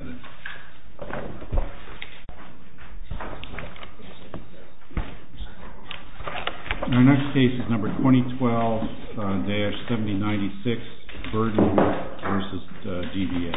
Our next case is number 2012-7096 BURDEN v. DVA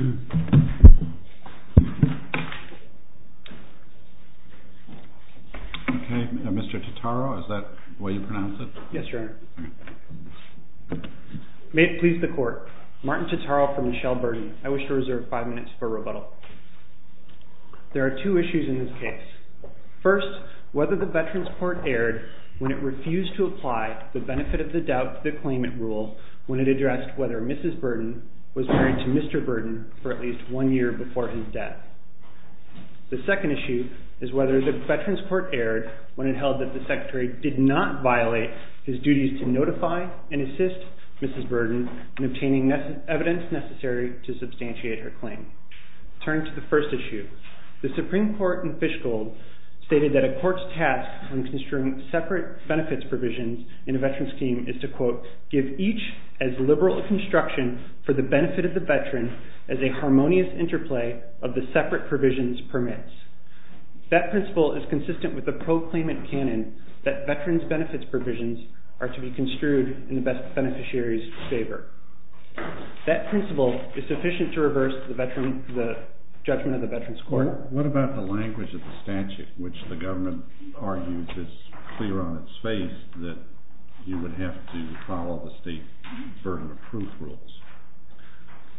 Okay, Mr. Totaro, is that what you're looking for? Yes, Your Honor. May it please the Court, Martin Totaro from Michelle Burden. I wish to reserve five minutes for rebuttal. There are two issues in this case. First, whether the Veterans Court erred when it refused to apply the benefit of the doubt to the claimant rule when it addressed whether Mrs. Burden was married to Mr. Burden for at least one year before his death. The second issue is whether the Veterans Court erred when it held that the Secretary did not violate his duties to notify and assist Mrs. Burden in obtaining evidence necessary to substantiate her claim. Turning to the first issue, the Supreme Court in Fishgold stated that a court's task when construing separate benefits provisions in a veteran's scheme is to, quote, give each as liberal a construction for the benefit of the veteran as a harmonious interplay of the separate provisions permits. That principle is consistent with the proclaimant canon that veterans' benefits provisions are to be construed in the best beneficiary's favor. That principle is sufficient to reverse the judgment of the Veterans Court. What about the language of the statute, which the government argues is clear on its face that you would have to follow the state burden of proof rules?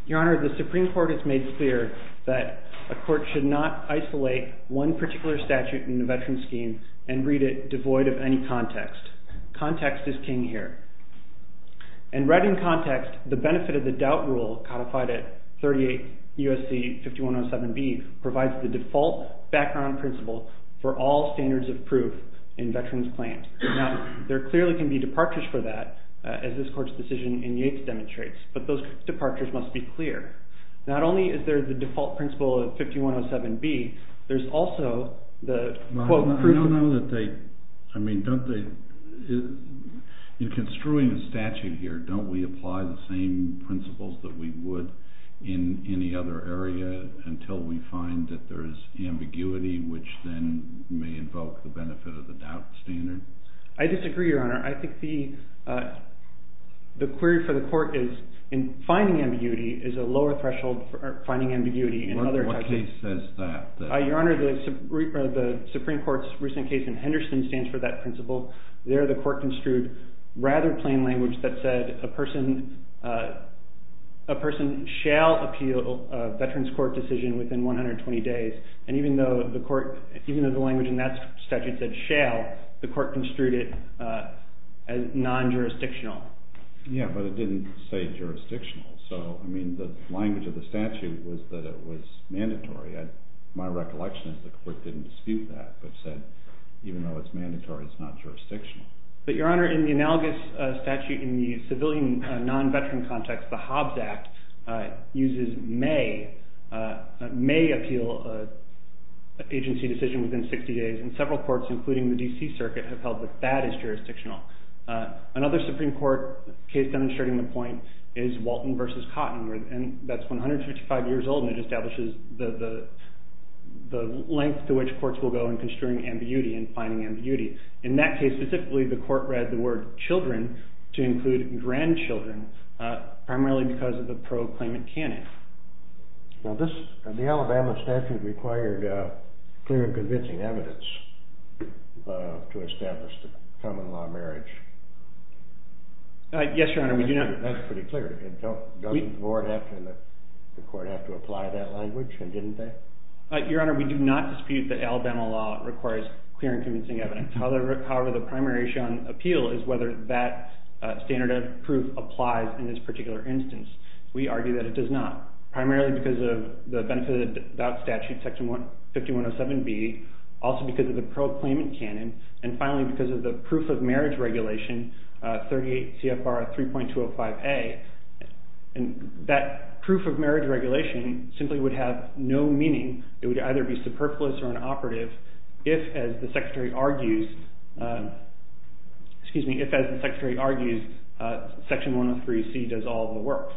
Your Honor, the Supreme Court has made clear that a court should not isolate one particular statute in the veteran's scheme and read it devoid of any context. Context is king here. In writing context, the benefit of the doubt rule codified at 38 U.S.C. 5107B provides the default background principle for all standards of proof in veterans' claims. Now, there clearly can be departures for that, as this court's decision in Yates demonstrates, but those departures must be clear. Not only is there the default principle of 5107B, there's also the, quote, proof of… I don't know that they – I mean, don't they – in construing a statute here, don't we apply the same principles that we would in any other area until we find that there is ambiguity, which then may invoke the benefit of the doubt standard? I disagree, Your Honor. I think the query for the court is finding ambiguity is a lower threshold for finding ambiguity in other… What case says that? Your Honor, the Supreme Court's recent case in Henderson stands for that principle. There, the court construed rather plain language that said a person shall appeal a veterans' court decision within 120 days, and even though the court – even though the language in that statute said shall, the court construed it as non-jurisdictional. Yeah, but it didn't say jurisdictional. So, I mean, the language of the statute was that it was mandatory. My recollection is the court didn't dispute that, but said even though it's mandatory, it's not jurisdictional. But, Your Honor, in the analogous statute in the civilian non-veteran context, the Hobbs Act uses may – may appeal an agency decision within 60 days, and several courts, including the D.C. Circuit, have held that that is jurisdictional. Another Supreme Court case demonstrating the point is Walton v. Cotton, and that's 155 years old, and it establishes the length to which courts will go in construing ambiguity and finding ambiguity. In that case, specifically, the court read the word children to include grandchildren, primarily because of the pro-claimant canon. Now, this – the Alabama statute required clear and convincing evidence to establish the common law marriage. Yes, Your Honor, we do not – That's pretty clear. Doesn't the court have to apply that language, and didn't they? Your Honor, we do not dispute that Alabama law requires clear and convincing evidence. However, the primary issue on appeal is whether that standard of proof applies in this particular instance. We argue that it does not, primarily because of the benefit-of-the-doubt statute, Section 5107B, also because of the pro-claimant canon, and finally because of the proof-of-marriage regulation, 38 CFR 3.205A. That proof-of-marriage regulation simply would have no meaning. It would either be superfluous or inoperative if, as the Secretary argues – excuse me – if, as the Secretary argues, Section 103C does all the work.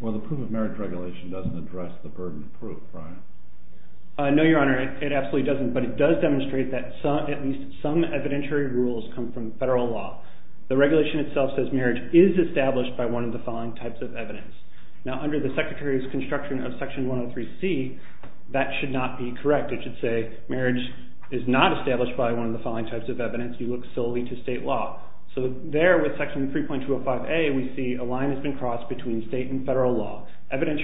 Well, the proof-of-marriage regulation doesn't address the burden of proof, right? No, Your Honor, it absolutely doesn't, but it does demonstrate that at least some evidentiary rules come from federal law. The regulation itself says marriage is established by one of the following types of evidence. Now, under the Secretary's construction of Section 103C, that should not be correct. It should say marriage is not established by one of the following types of evidence. You look solely to state law. So there, with Section 3.205A, we see a line has been crossed between state and federal law. Whereas,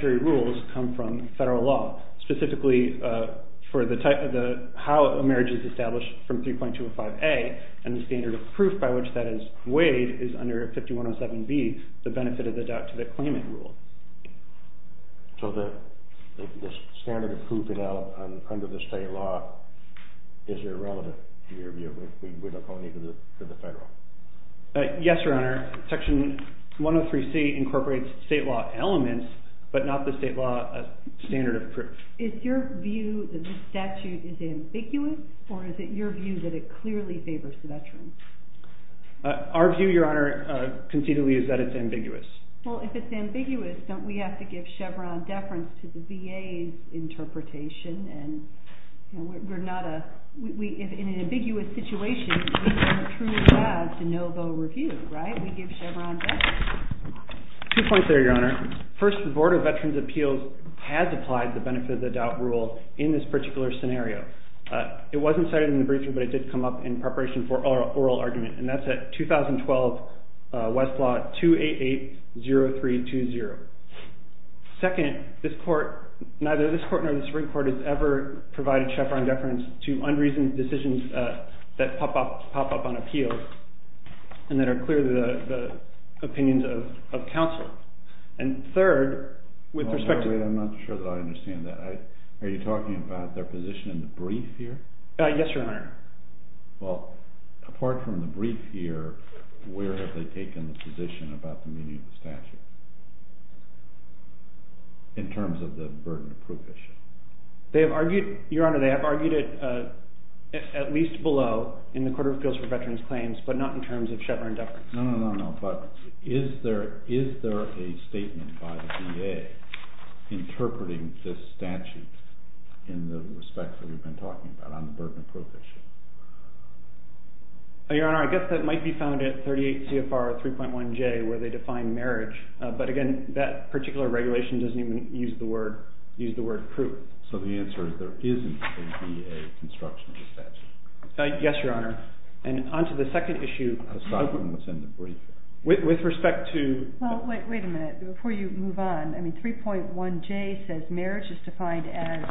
Wade is under 5107B, the benefit of the deductive claimant rule. So the standard of proof under the state law is irrelevant, in your view? We're not calling it for the federal? Yes, Your Honor. Section 103C incorporates state law elements, but not the state law standard of proof. Is your view that this statute is ambiguous, or is it your view that it clearly favors the veterans? Our view, Your Honor, conceitedly, is that it's ambiguous. Well, if it's ambiguous, don't we have to give Chevron deference to the VA's interpretation? And we're not a – in an ambiguous situation, we don't truly have to no-vote review, right? We give Chevron deference. Two points there, Your Honor. First, the Board of Veterans' Appeals has applied the benefit of the doubt rule in this particular scenario. It wasn't cited in the briefing, but it did come up in preparation for oral argument, and that's at 2012 Westlaw 2880320. Second, neither this court nor the Supreme Court has ever provided Chevron deference to unreasoned decisions that pop up on appeals and that are clear to the opinions of counsel. And third, with respect to – Yes, Your Honor. Well, apart from the brief here, where have they taken the position about the meaning of the statute in terms of the burden of proof issue? They have argued – Your Honor, they have argued it at least below in the Court of Appeals for Veterans' Claims, but not in terms of Chevron deference. No, no, no, no, but is there a statement by the VA interpreting this statute in the respect that we've been talking about on the burden of proof issue? Your Honor, I guess that might be found at 38 CFR 3.1J where they define marriage, but again, that particular regulation doesn't even use the word proof. So the answer is there isn't a VA construction of the statute? Yes, Your Honor. And on to the second issue. I thought it was in the brief. With respect to – Well, wait a minute before you move on. I mean 3.1J says marriage is defined as,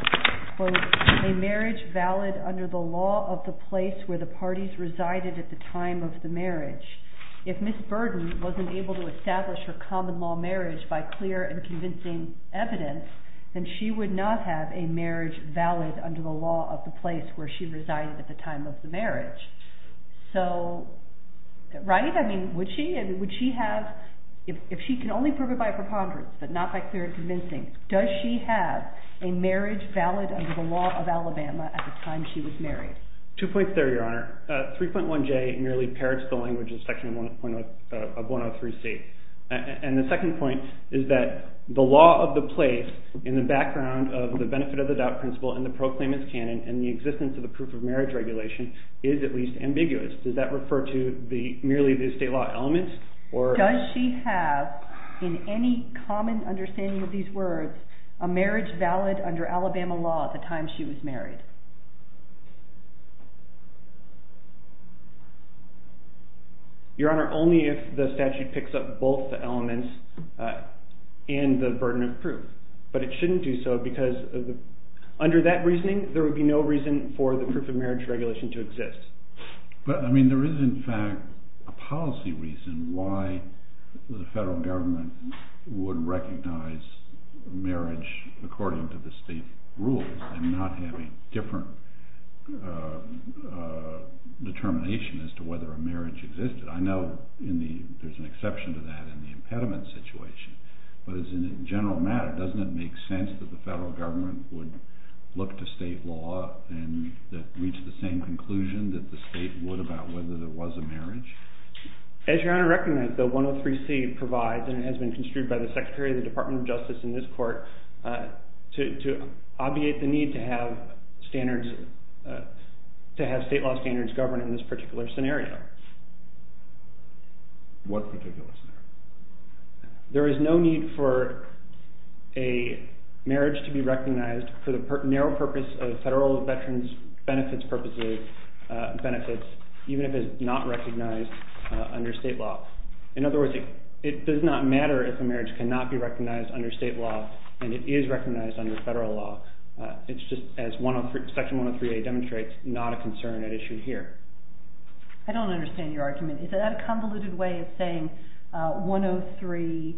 quote, a marriage valid under the law of the place where the parties resided at the time of the marriage. If Ms. Burden wasn't able to establish her common law marriage by clear and convincing evidence, then she would not have a marriage valid under the law of the place where she resided at the time of the marriage. So, right? I mean, would she? Would she have – if she can only prove it by a preponderance but not by clear and convincing, does she have a marriage valid under the law of Alabama at the time she was married? Two points there, Your Honor. 3.1J merely parrots the language of Section 103C. And the second point is that the law of the place in the background of the benefit of the doubt principle and the proclaimants canon and the existence of the proof of marriage regulation is at least ambiguous. Does that refer to merely the state law elements or – Does she have, in any common understanding of these words, a marriage valid under Alabama law at the time she was married? Your Honor, only if the statute picks up both the elements and the burden of proof. But it shouldn't do so because under that reasoning, there would be no reason for the proof of marriage regulation to exist. But, I mean, there is in fact a policy reason why the federal government would recognize marriage according to the state rules and not have a different determination as to whether a marriage existed. I know in the – there's an exception to that in the impediment situation. But as a general matter, doesn't it make sense that the federal government would look to state law and reach the same conclusion that the state would about whether there was a marriage? As Your Honor recognizes, the 103C provides and has been construed by the Secretary of the Department of Justice in this court to obviate the need to have standards – to have state law standards govern in this particular scenario. What particular scenario? There is no need for a marriage to be recognized for the narrow purpose of federal veterans benefits purposes – benefits, even if it's not recognized under state law. In other words, it does not matter if a marriage cannot be recognized under state law and it is recognized under federal law. It's just as Section 103A demonstrates, not a concern at issue here. I don't understand your argument. Is that a convoluted way of saying 103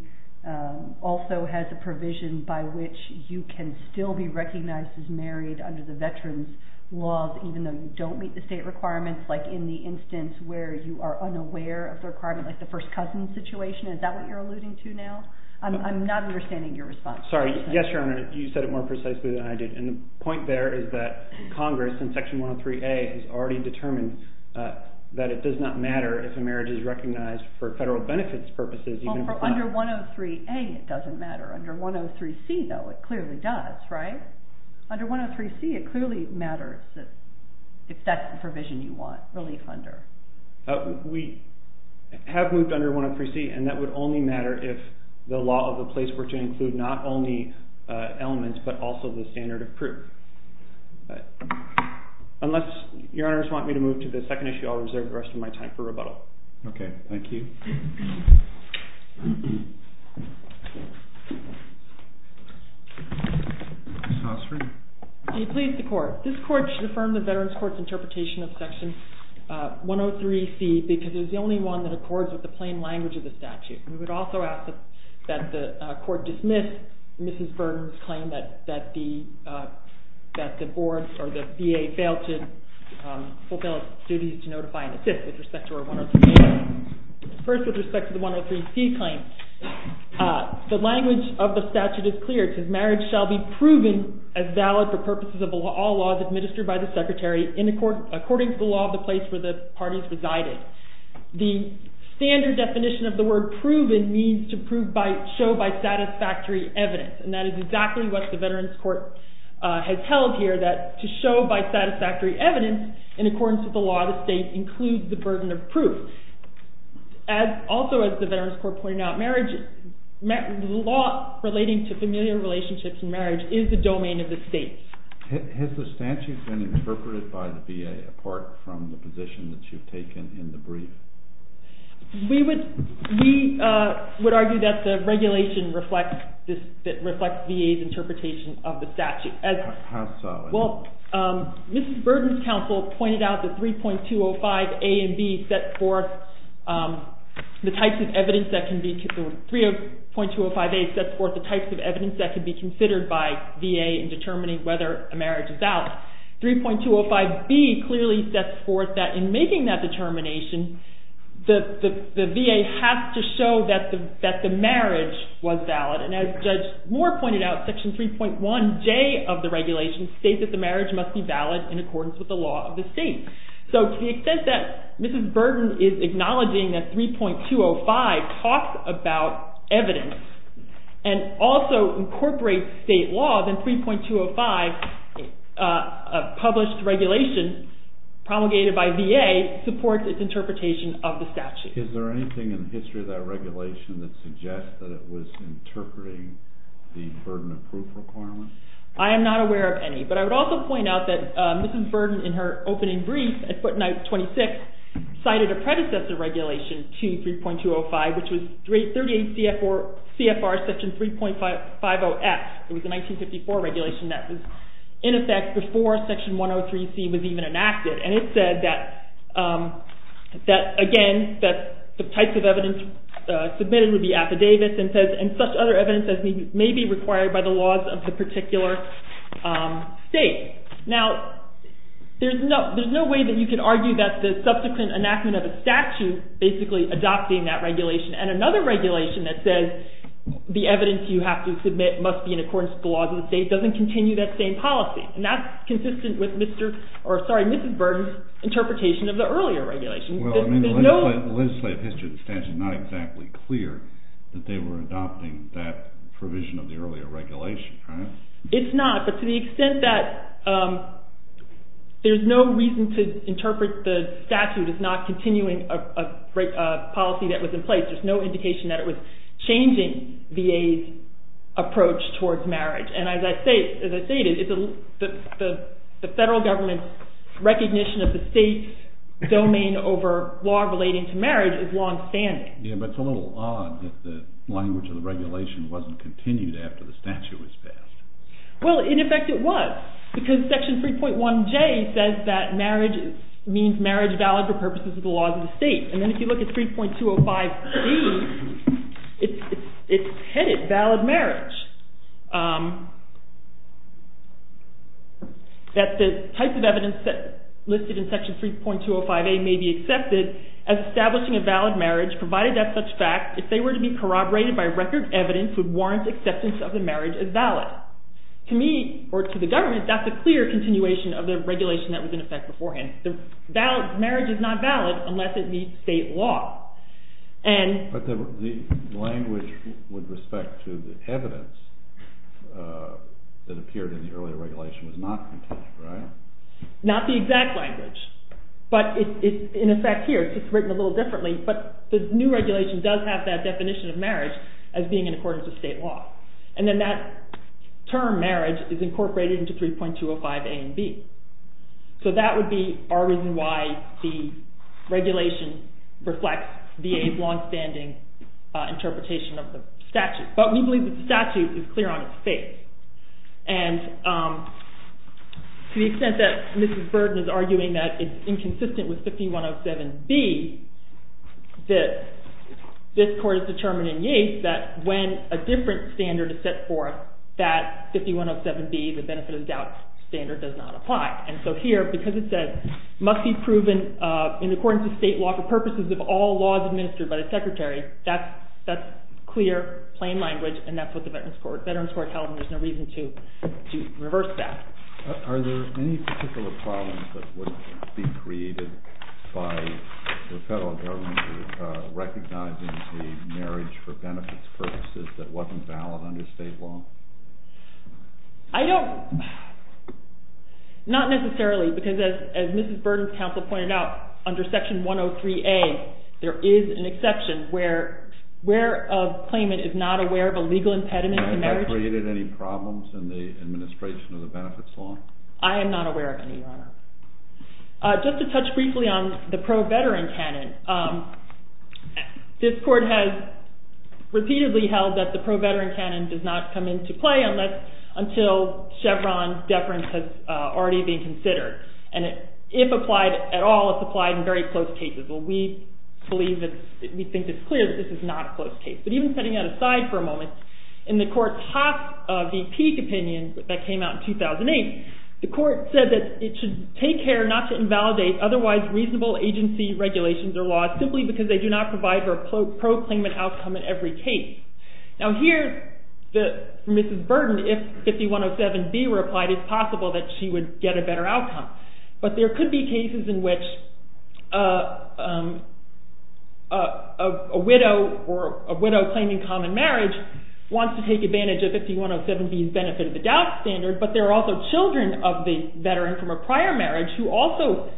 also has a provision by which you can still be recognized as married under the veterans laws, even though you don't meet the state requirements, like in the instance where you are unaware of the requirement, like the first cousin situation? Is that what you're alluding to now? I'm not understanding your response. Sorry. Yes, Your Honor. You said it more precisely than I did. The point there is that Congress, in Section 103A, has already determined that it does not matter if a marriage is recognized for federal benefits purposes. Under 103A, it doesn't matter. Under 103C, though, it clearly does, right? Under 103C, it clearly matters if that's the provision you want relief under. We have moved under 103C, and that would only matter if the law of the place were to include not only elements, but also the standard of proof. Unless Your Honors want me to move to the second issue, I'll reserve the rest of my time for rebuttal. Okay. Thank you. Do you please, the Court? This Court should affirm the Veterans Court's interpretation of Section 103C because it is the only one that accords with the plain language of the statute. We would also ask that the Court dismiss Mrs. Burton's claim that the board or the VA failed to fulfill its duties to notify and assist with respect to 103A. First, with respect to the 103C claim, the language of the statute is clear. Marriage shall be proven as valid for purposes of all laws administered by the Secretary according to the law of the place where the parties resided. The standard definition of the word proven means to show by satisfactory evidence, and that is exactly what the Veterans Court has held here, that to show by satisfactory evidence in accordance with the law of the state includes the burden of proof. Also, as the Veterans Court pointed out, the law relating to familial relationships and marriage is the domain of the state. Has the statute been interpreted by the VA apart from the position that you've taken in the brief? We would argue that the regulation reflects VA's interpretation of the statute. How so? Well, Mrs. Burton's counsel pointed out that 3.205A and 3.205B set forth the types of evidence that could be considered by VA in determining whether a marriage is valid. 3.205B clearly sets forth that in making that determination, the VA has to show that the marriage was valid. And as Judge Moore pointed out, Section 3.1J of the regulation states that the marriage must be valid in accordance with the law of the state. So to the extent that Mrs. Burton is acknowledging that 3.205 talks about evidence and also incorporates state law, then 3.205, a published regulation promulgated by VA, supports its interpretation of the statute. Is there anything in the history of that regulation that suggests that it was interpreting the burden of proof requirement? I am not aware of any. But I would also point out that Mrs. Burton, in her opening brief at footnote 26, cited a predecessor regulation to 3.205, which was 38 CFR Section 3.50F. It was a 1954 regulation that was in effect before Section 103C was even enacted. And it said that, again, the types of evidence submitted would be affidavits and such other evidence as may be required by the laws of the particular state. Now, there is no way that you can argue that the subsequent enactment of a statute basically adopts that regulation. And another regulation that says the evidence you have to submit must be in accordance with the laws of the state doesn't continue that same policy. And that's consistent with Mrs. Burton's interpretation of the earlier regulation. The legislative history of the statute is not exactly clear that they were adopting that provision of the earlier regulation, right? It's not, but to the extent that there's no reason to interpret the statute as not continuing a policy that was in place, there's no indication that it was changing VA's approach towards marriage. And as I stated, the federal government's recognition of the state's domain over law relating to marriage is long-standing. Yeah, but it's a little odd that the language of the regulation wasn't continued after the statute was passed. Well, in effect it was, because Section 3.1J says that marriage means marriage valid for purposes of the laws of the state. And then if you look at 3.205B, it's headed valid marriage. That the types of evidence listed in Section 3.205A may be accepted as establishing a valid marriage provided that such fact, if they were to be corroborated by record evidence, would warrant acceptance of the marriage as valid. To me, or to the government, that's a clear continuation of the regulation that was in effect beforehand. Marriage is not valid unless it meets state law. But the language with respect to the evidence that appeared in the earlier regulation was not continued, right? Not the exact language, but in effect here it's written a little differently, but the new regulation does have that definition of marriage as being in accordance with state law. And then that term marriage is incorporated into 3.205A and B. So that would be our reason why the regulation reflects VA's long-standing interpretation of the statute. But we believe that the statute is clear on its face. And to the extent that Mrs. Burton is arguing that it's inconsistent with 5107B, this Court has determined in Yates that when a different standard is set forth, that 5107B, the benefit of the doubt standard, does not apply. And so here, because it says, must be proven in accordance with state law for purposes of all laws administered by the Secretary, that's clear, plain language, and that's what the Veterans Court held, and there's no reason to reverse that. Are there any particular problems that would be created by the federal government recognizing the marriage for benefits purposes that wasn't valid under state law? I don't – not necessarily, because as Mrs. Burton's counsel pointed out, under Section 103A, there is an exception where a claimant is not aware of a legal impediment to marriage. Has that created any problems in the administration of the benefits law? I am not aware of any, Your Honor. Just to touch briefly on the pro-veteran canon, this Court has repeatedly held that the pro-veteran canon does not come into play unless – until Chevron deference has already been considered. And if applied at all, it's applied in very close cases. Well, we believe that – we think it's clear that this is not a close case. But even setting that aside for a moment, in the Court's Haas v. Peek opinion that came out in 2008, the Court said that it should take care not to invalidate otherwise reasonable agency regulations or laws simply because they do not provide for a pro-claimant outcome in every case. Now here, Mrs. Burton, if 5107B were applied, it's possible that she would get a better outcome. But there could be cases in which a widow or a widow claiming common marriage wants to take advantage of 5107B's benefit of the doubt standard, but there are also children of the veteran from a prior marriage who also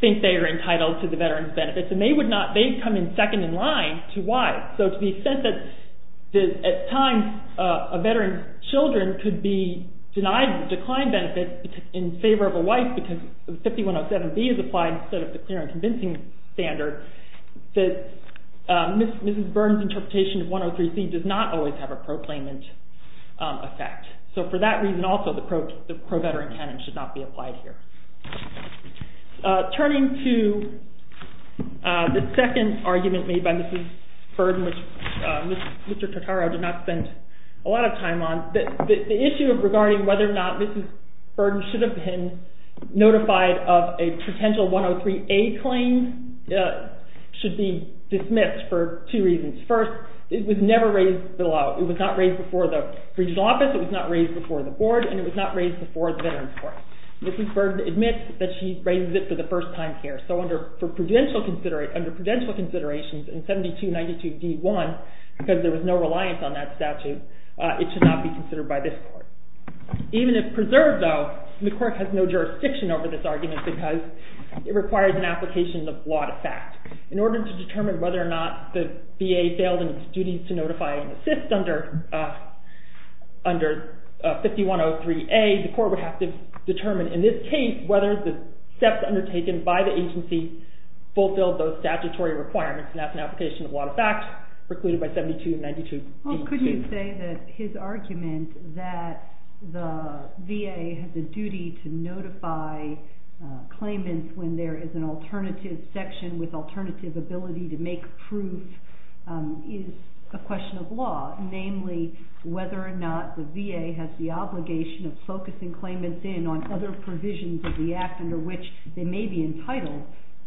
think they are entitled to the veteran's benefits. And they would not – they come in second in line to why. So to the extent that at times a veteran's children could be denied the declined benefit in favor of a wife because 5107B is applied instead of the clear and convincing standard, Mrs. Burton's interpretation of 103C does not always have a pro-claimant effect. So for that reason also, the pro-veteran canon should not be applied here. Turning to the second argument made by Mrs. Burton, which Mr. Totaro did not spend a lot of time on, the issue of regarding whether or not Mrs. Burton should have been notified of a potential 103A claim should be dismissed for two reasons. First, it was never raised below. It was not raised before the regional office. It was not raised before the board, and it was not raised before the veterans court. Mrs. Burton admits that she raised it for the first time here. So under prudential considerations in 7292D1, because there was no reliance on that statute, it should not be considered by this court. Even if preserved, though, the court has no jurisdiction over this argument because it requires an application of law to fact. In order to determine whether or not the VA failed in its duties to notify and assist under 5103A, the court would have to determine in this case whether the steps undertaken by the agency fulfilled those statutory requirements, and that's an application of law to fact precluded by 7292D2. Couldn't you say that his argument that the VA has a duty to notify claimants when there is an alternative section with alternative ability to make proof is a question of law, namely whether or not the VA has the obligation of focusing claimants in on other provisions of the act under which they may be entitled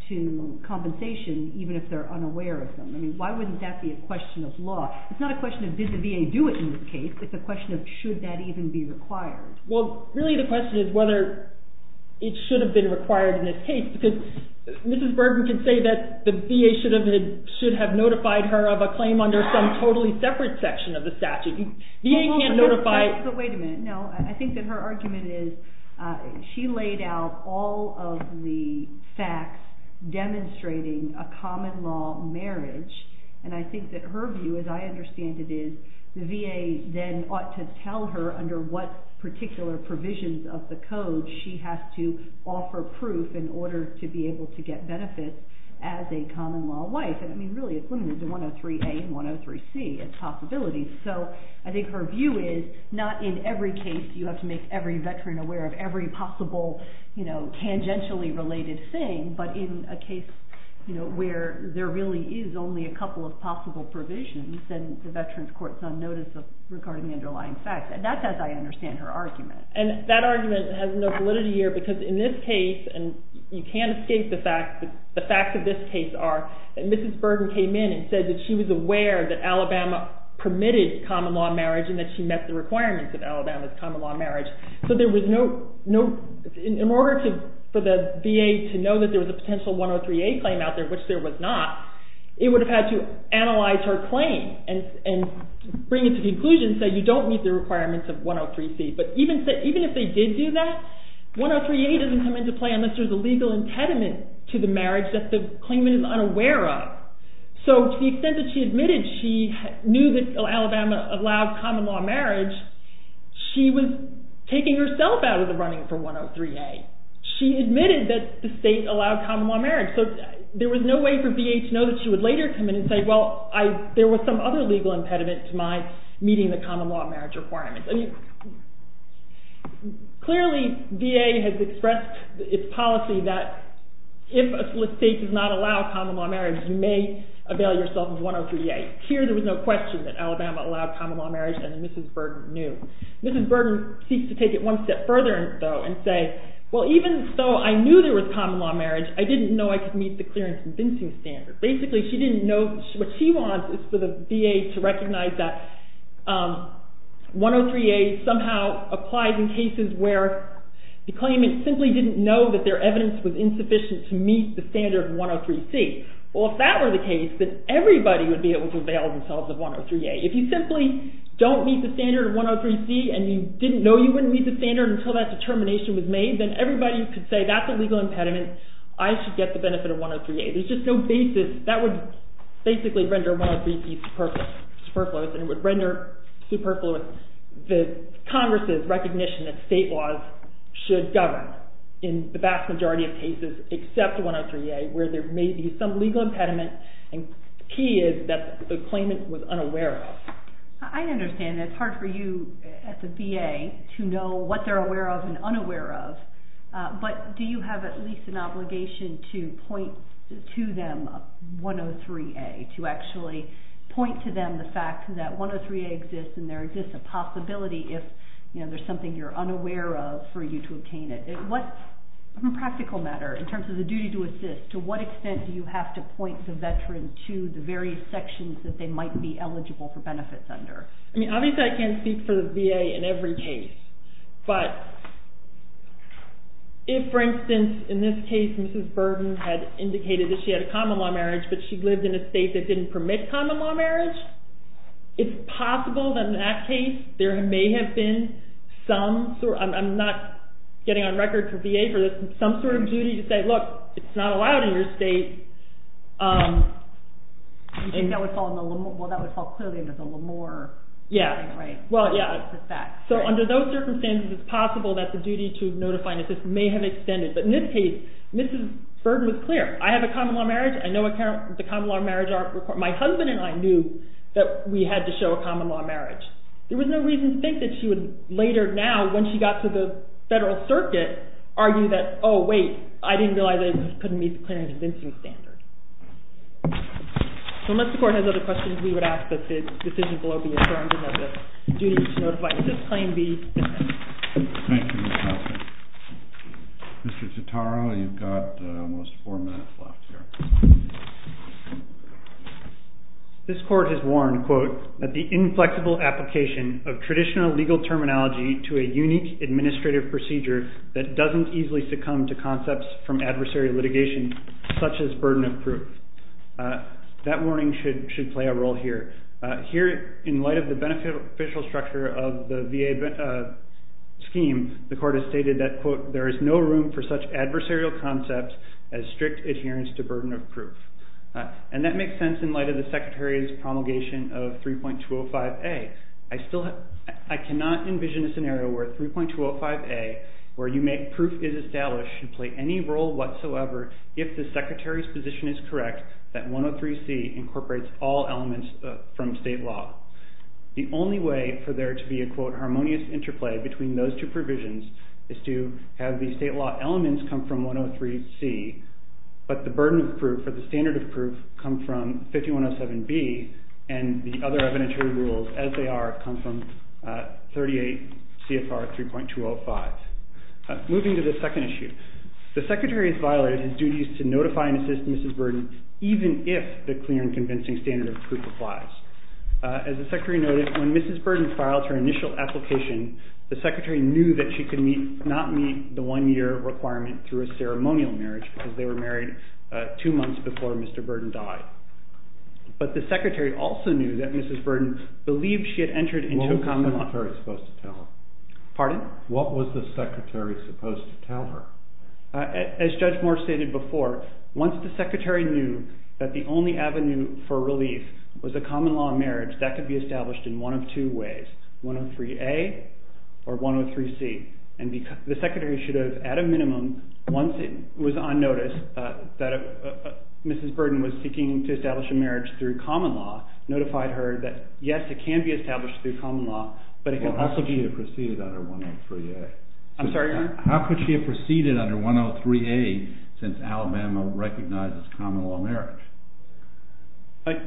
to compensation even if they're unaware of them? I mean, why wouldn't that be a question of law? It's not a question of did the VA do it in this case. It's a question of should that even be required. Well, really the question is whether it should have been required in this case because Mrs. Bergen can say that the VA should have notified her of a claim under some totally separate section of the statute. VA can't notify... But wait a minute. No, I think that her argument is she laid out all of the facts demonstrating a common law marriage, and I think that her view, as I understand it, is the VA then ought to tell her under what particular provisions of the code she has to offer proof in order to be able to get benefits as a common law wife. I mean, really it's limited to 103A and 103C as possibilities. So I think her view is not in every case you have to make every veteran aware of every possible, you know, tangentially related thing, but in a case where there really is only a couple of possible provisions, then the veterans court's on notice regarding the underlying facts. And that's as I understand her argument. And that argument has no validity here because in this case, and you can't escape the fact that the facts of this case are that Mrs. Bergen came in and said that she was aware that Alabama permitted common law marriage and that she met the requirements of Alabama's common law marriage. So in order for the VA to know that there was a potential 103A claim out there, which there was not, it would have had to analyze her claim and bring it to the conclusion that you don't meet the requirements of 103C. But even if they did do that, 103A doesn't come into play unless there's a legal impediment to the marriage that the claimant is unaware of. So to the extent that she admitted she knew that Alabama allowed common law marriage, she was taking herself out of the running for 103A. She admitted that the state allowed common law marriage. So there was no way for VA to know that she would later come in and say, well, there was some other legal impediment to my meeting the common law marriage requirements. Clearly, VA has expressed its policy that if a state does not allow common law marriage, you may avail yourself of 103A. Here there was no question that Alabama allowed common law marriage and that Mrs. Burden knew. Mrs. Burden seeks to take it one step further, though, and say, well, even though I knew there was common law marriage, I didn't know I could meet the clear and convincing standard. Basically, what she wants is for the VA to recognize that 103A somehow applies in cases where the claimant simply didn't know that their evidence was insufficient to meet the standard of 103C. Well, if that were the case, then everybody would be able to avail themselves of 103A. If you simply don't meet the standard of 103C and you didn't know you wouldn't meet the standard until that determination was made, then everybody could say that's a legal impediment. I should get the benefit of 103A. There's just no basis. That would basically render 103C superfluous, and it would render superfluous the Congress's recognition that state laws should govern in the vast majority of cases except 103A where there may be some legal impediment, and the key is that the claimant was unaware of it. I understand. It's hard for you at the VA to know what they're aware of and unaware of, but do you have at least an obligation to point to them 103A, to actually point to them the fact that 103A exists and there exists a possibility if there's something you're unaware of for you to obtain it? On a practical matter, in terms of the duty to assist, to what extent do you have to point the veteran to the various sections that they might be eligible for benefits under? Obviously, I can't speak for the VA in every case, but if, for instance, in this case, Mrs. Burden had indicated that she had a common-law marriage but she lived in a state that didn't permit common-law marriage, it's possible that in that case there may have been some sort of – I'm not getting on record to VA for this – some sort of duty to say, look, it's not allowed in your state. You think that would fall in the – well, that would fall clearly in the Lamore setting, right? Yeah. Well, yeah. So under those circumstances, it's possible that the duty to notify and assist may have extended. But in this case, Mrs. Burden was clear. I have a common-law marriage. I know the common-law marriage – my husband and I knew that we had to show a common-law marriage. There was no reason to think that she would later now, when she got to the federal circuit, argue that, oh, wait, I didn't realize that it couldn't meet the clear and convincing standard. So unless the Court has other questions, we would ask that the decisions below be adjourned and that a duty to notify and assist claim be dismissed. Thank you, Ms. Huffman. Mr. Citaro, you've got almost four minutes left here. This Court has warned, quote, that the inflexible application of traditional legal terminology to a unique administrative procedure that doesn't easily succumb to concepts from adversary litigation such as burden of proof, that warning should play a role here. Here, in light of the beneficial structure of the VA scheme, the Court has stated that, quote, there is no room for such adversarial concepts as strict adherence to burden of proof. And that makes sense in light of the Secretary's promulgation of 3.205A. I cannot envision a scenario where 3.205A, where you make proof is established, should play any role whatsoever if the Secretary's position is correct that 103C incorporates all elements from state law. The only way for there to be a, quote, is to have the state law elements come from 103C, but the burden of proof or the standard of proof come from 5107B, and the other evidentiary rules as they are come from 38 CFR 3.205. Moving to the second issue, the Secretary has violated his duties to notify and assist Mrs. Burden even if the clear and convincing standard of proof applies. As the Secretary noted, when Mrs. Burden files her initial application, the Secretary knew that she could not meet the one-year requirement through a ceremonial marriage because they were married two months before Mr. Burden died. But the Secretary also knew that Mrs. Burden believed she had entered into a common law. What was the Secretary supposed to tell her? Pardon? What was the Secretary supposed to tell her? As Judge Moore stated before, once the Secretary knew that the only avenue for relief was a common law marriage, that could be established in one of two ways, 103A or 103C. And the Secretary should have, at a minimum, once it was on notice that Mrs. Burden was seeking to establish a marriage through common law, notified her that, yes, it can be established through common law, but it can also be- Well, how could she have proceeded under 103A? I'm sorry, Your Honor? How could she have proceeded under 103A since Alabama recognizes common law marriage?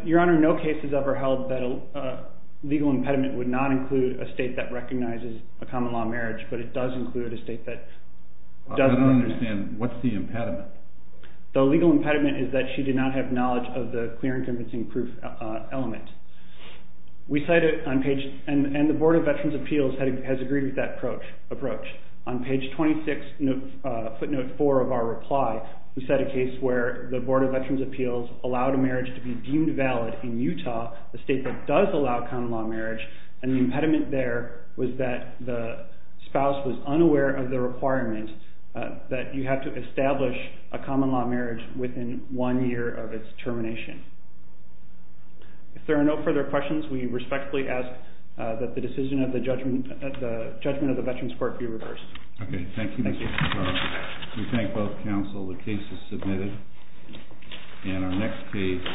Your Honor, no case has ever held that a legal impediment would not include a state that recognizes a common law marriage, but it does include a state that does- I don't understand. What's the impediment? The legal impediment is that she did not have knowledge of the clear and convincing proof element. We cited on page- And the Board of Veterans' Appeals has agreed with that approach. On page 26, footnote 4 of our reply, we cite a case where the Board of Veterans' Appeals allowed a marriage to be deemed valid in Utah, a state that does allow common law marriage, and the impediment there was that the spouse was unaware of the requirement that you have to establish a common law marriage within one year of its termination. If there are no further questions, we respectfully ask that the decision of the judgment of the Veterans Court be reversed. Okay, thank you. Thank you. We thank both counsel. The case is submitted. And our next case-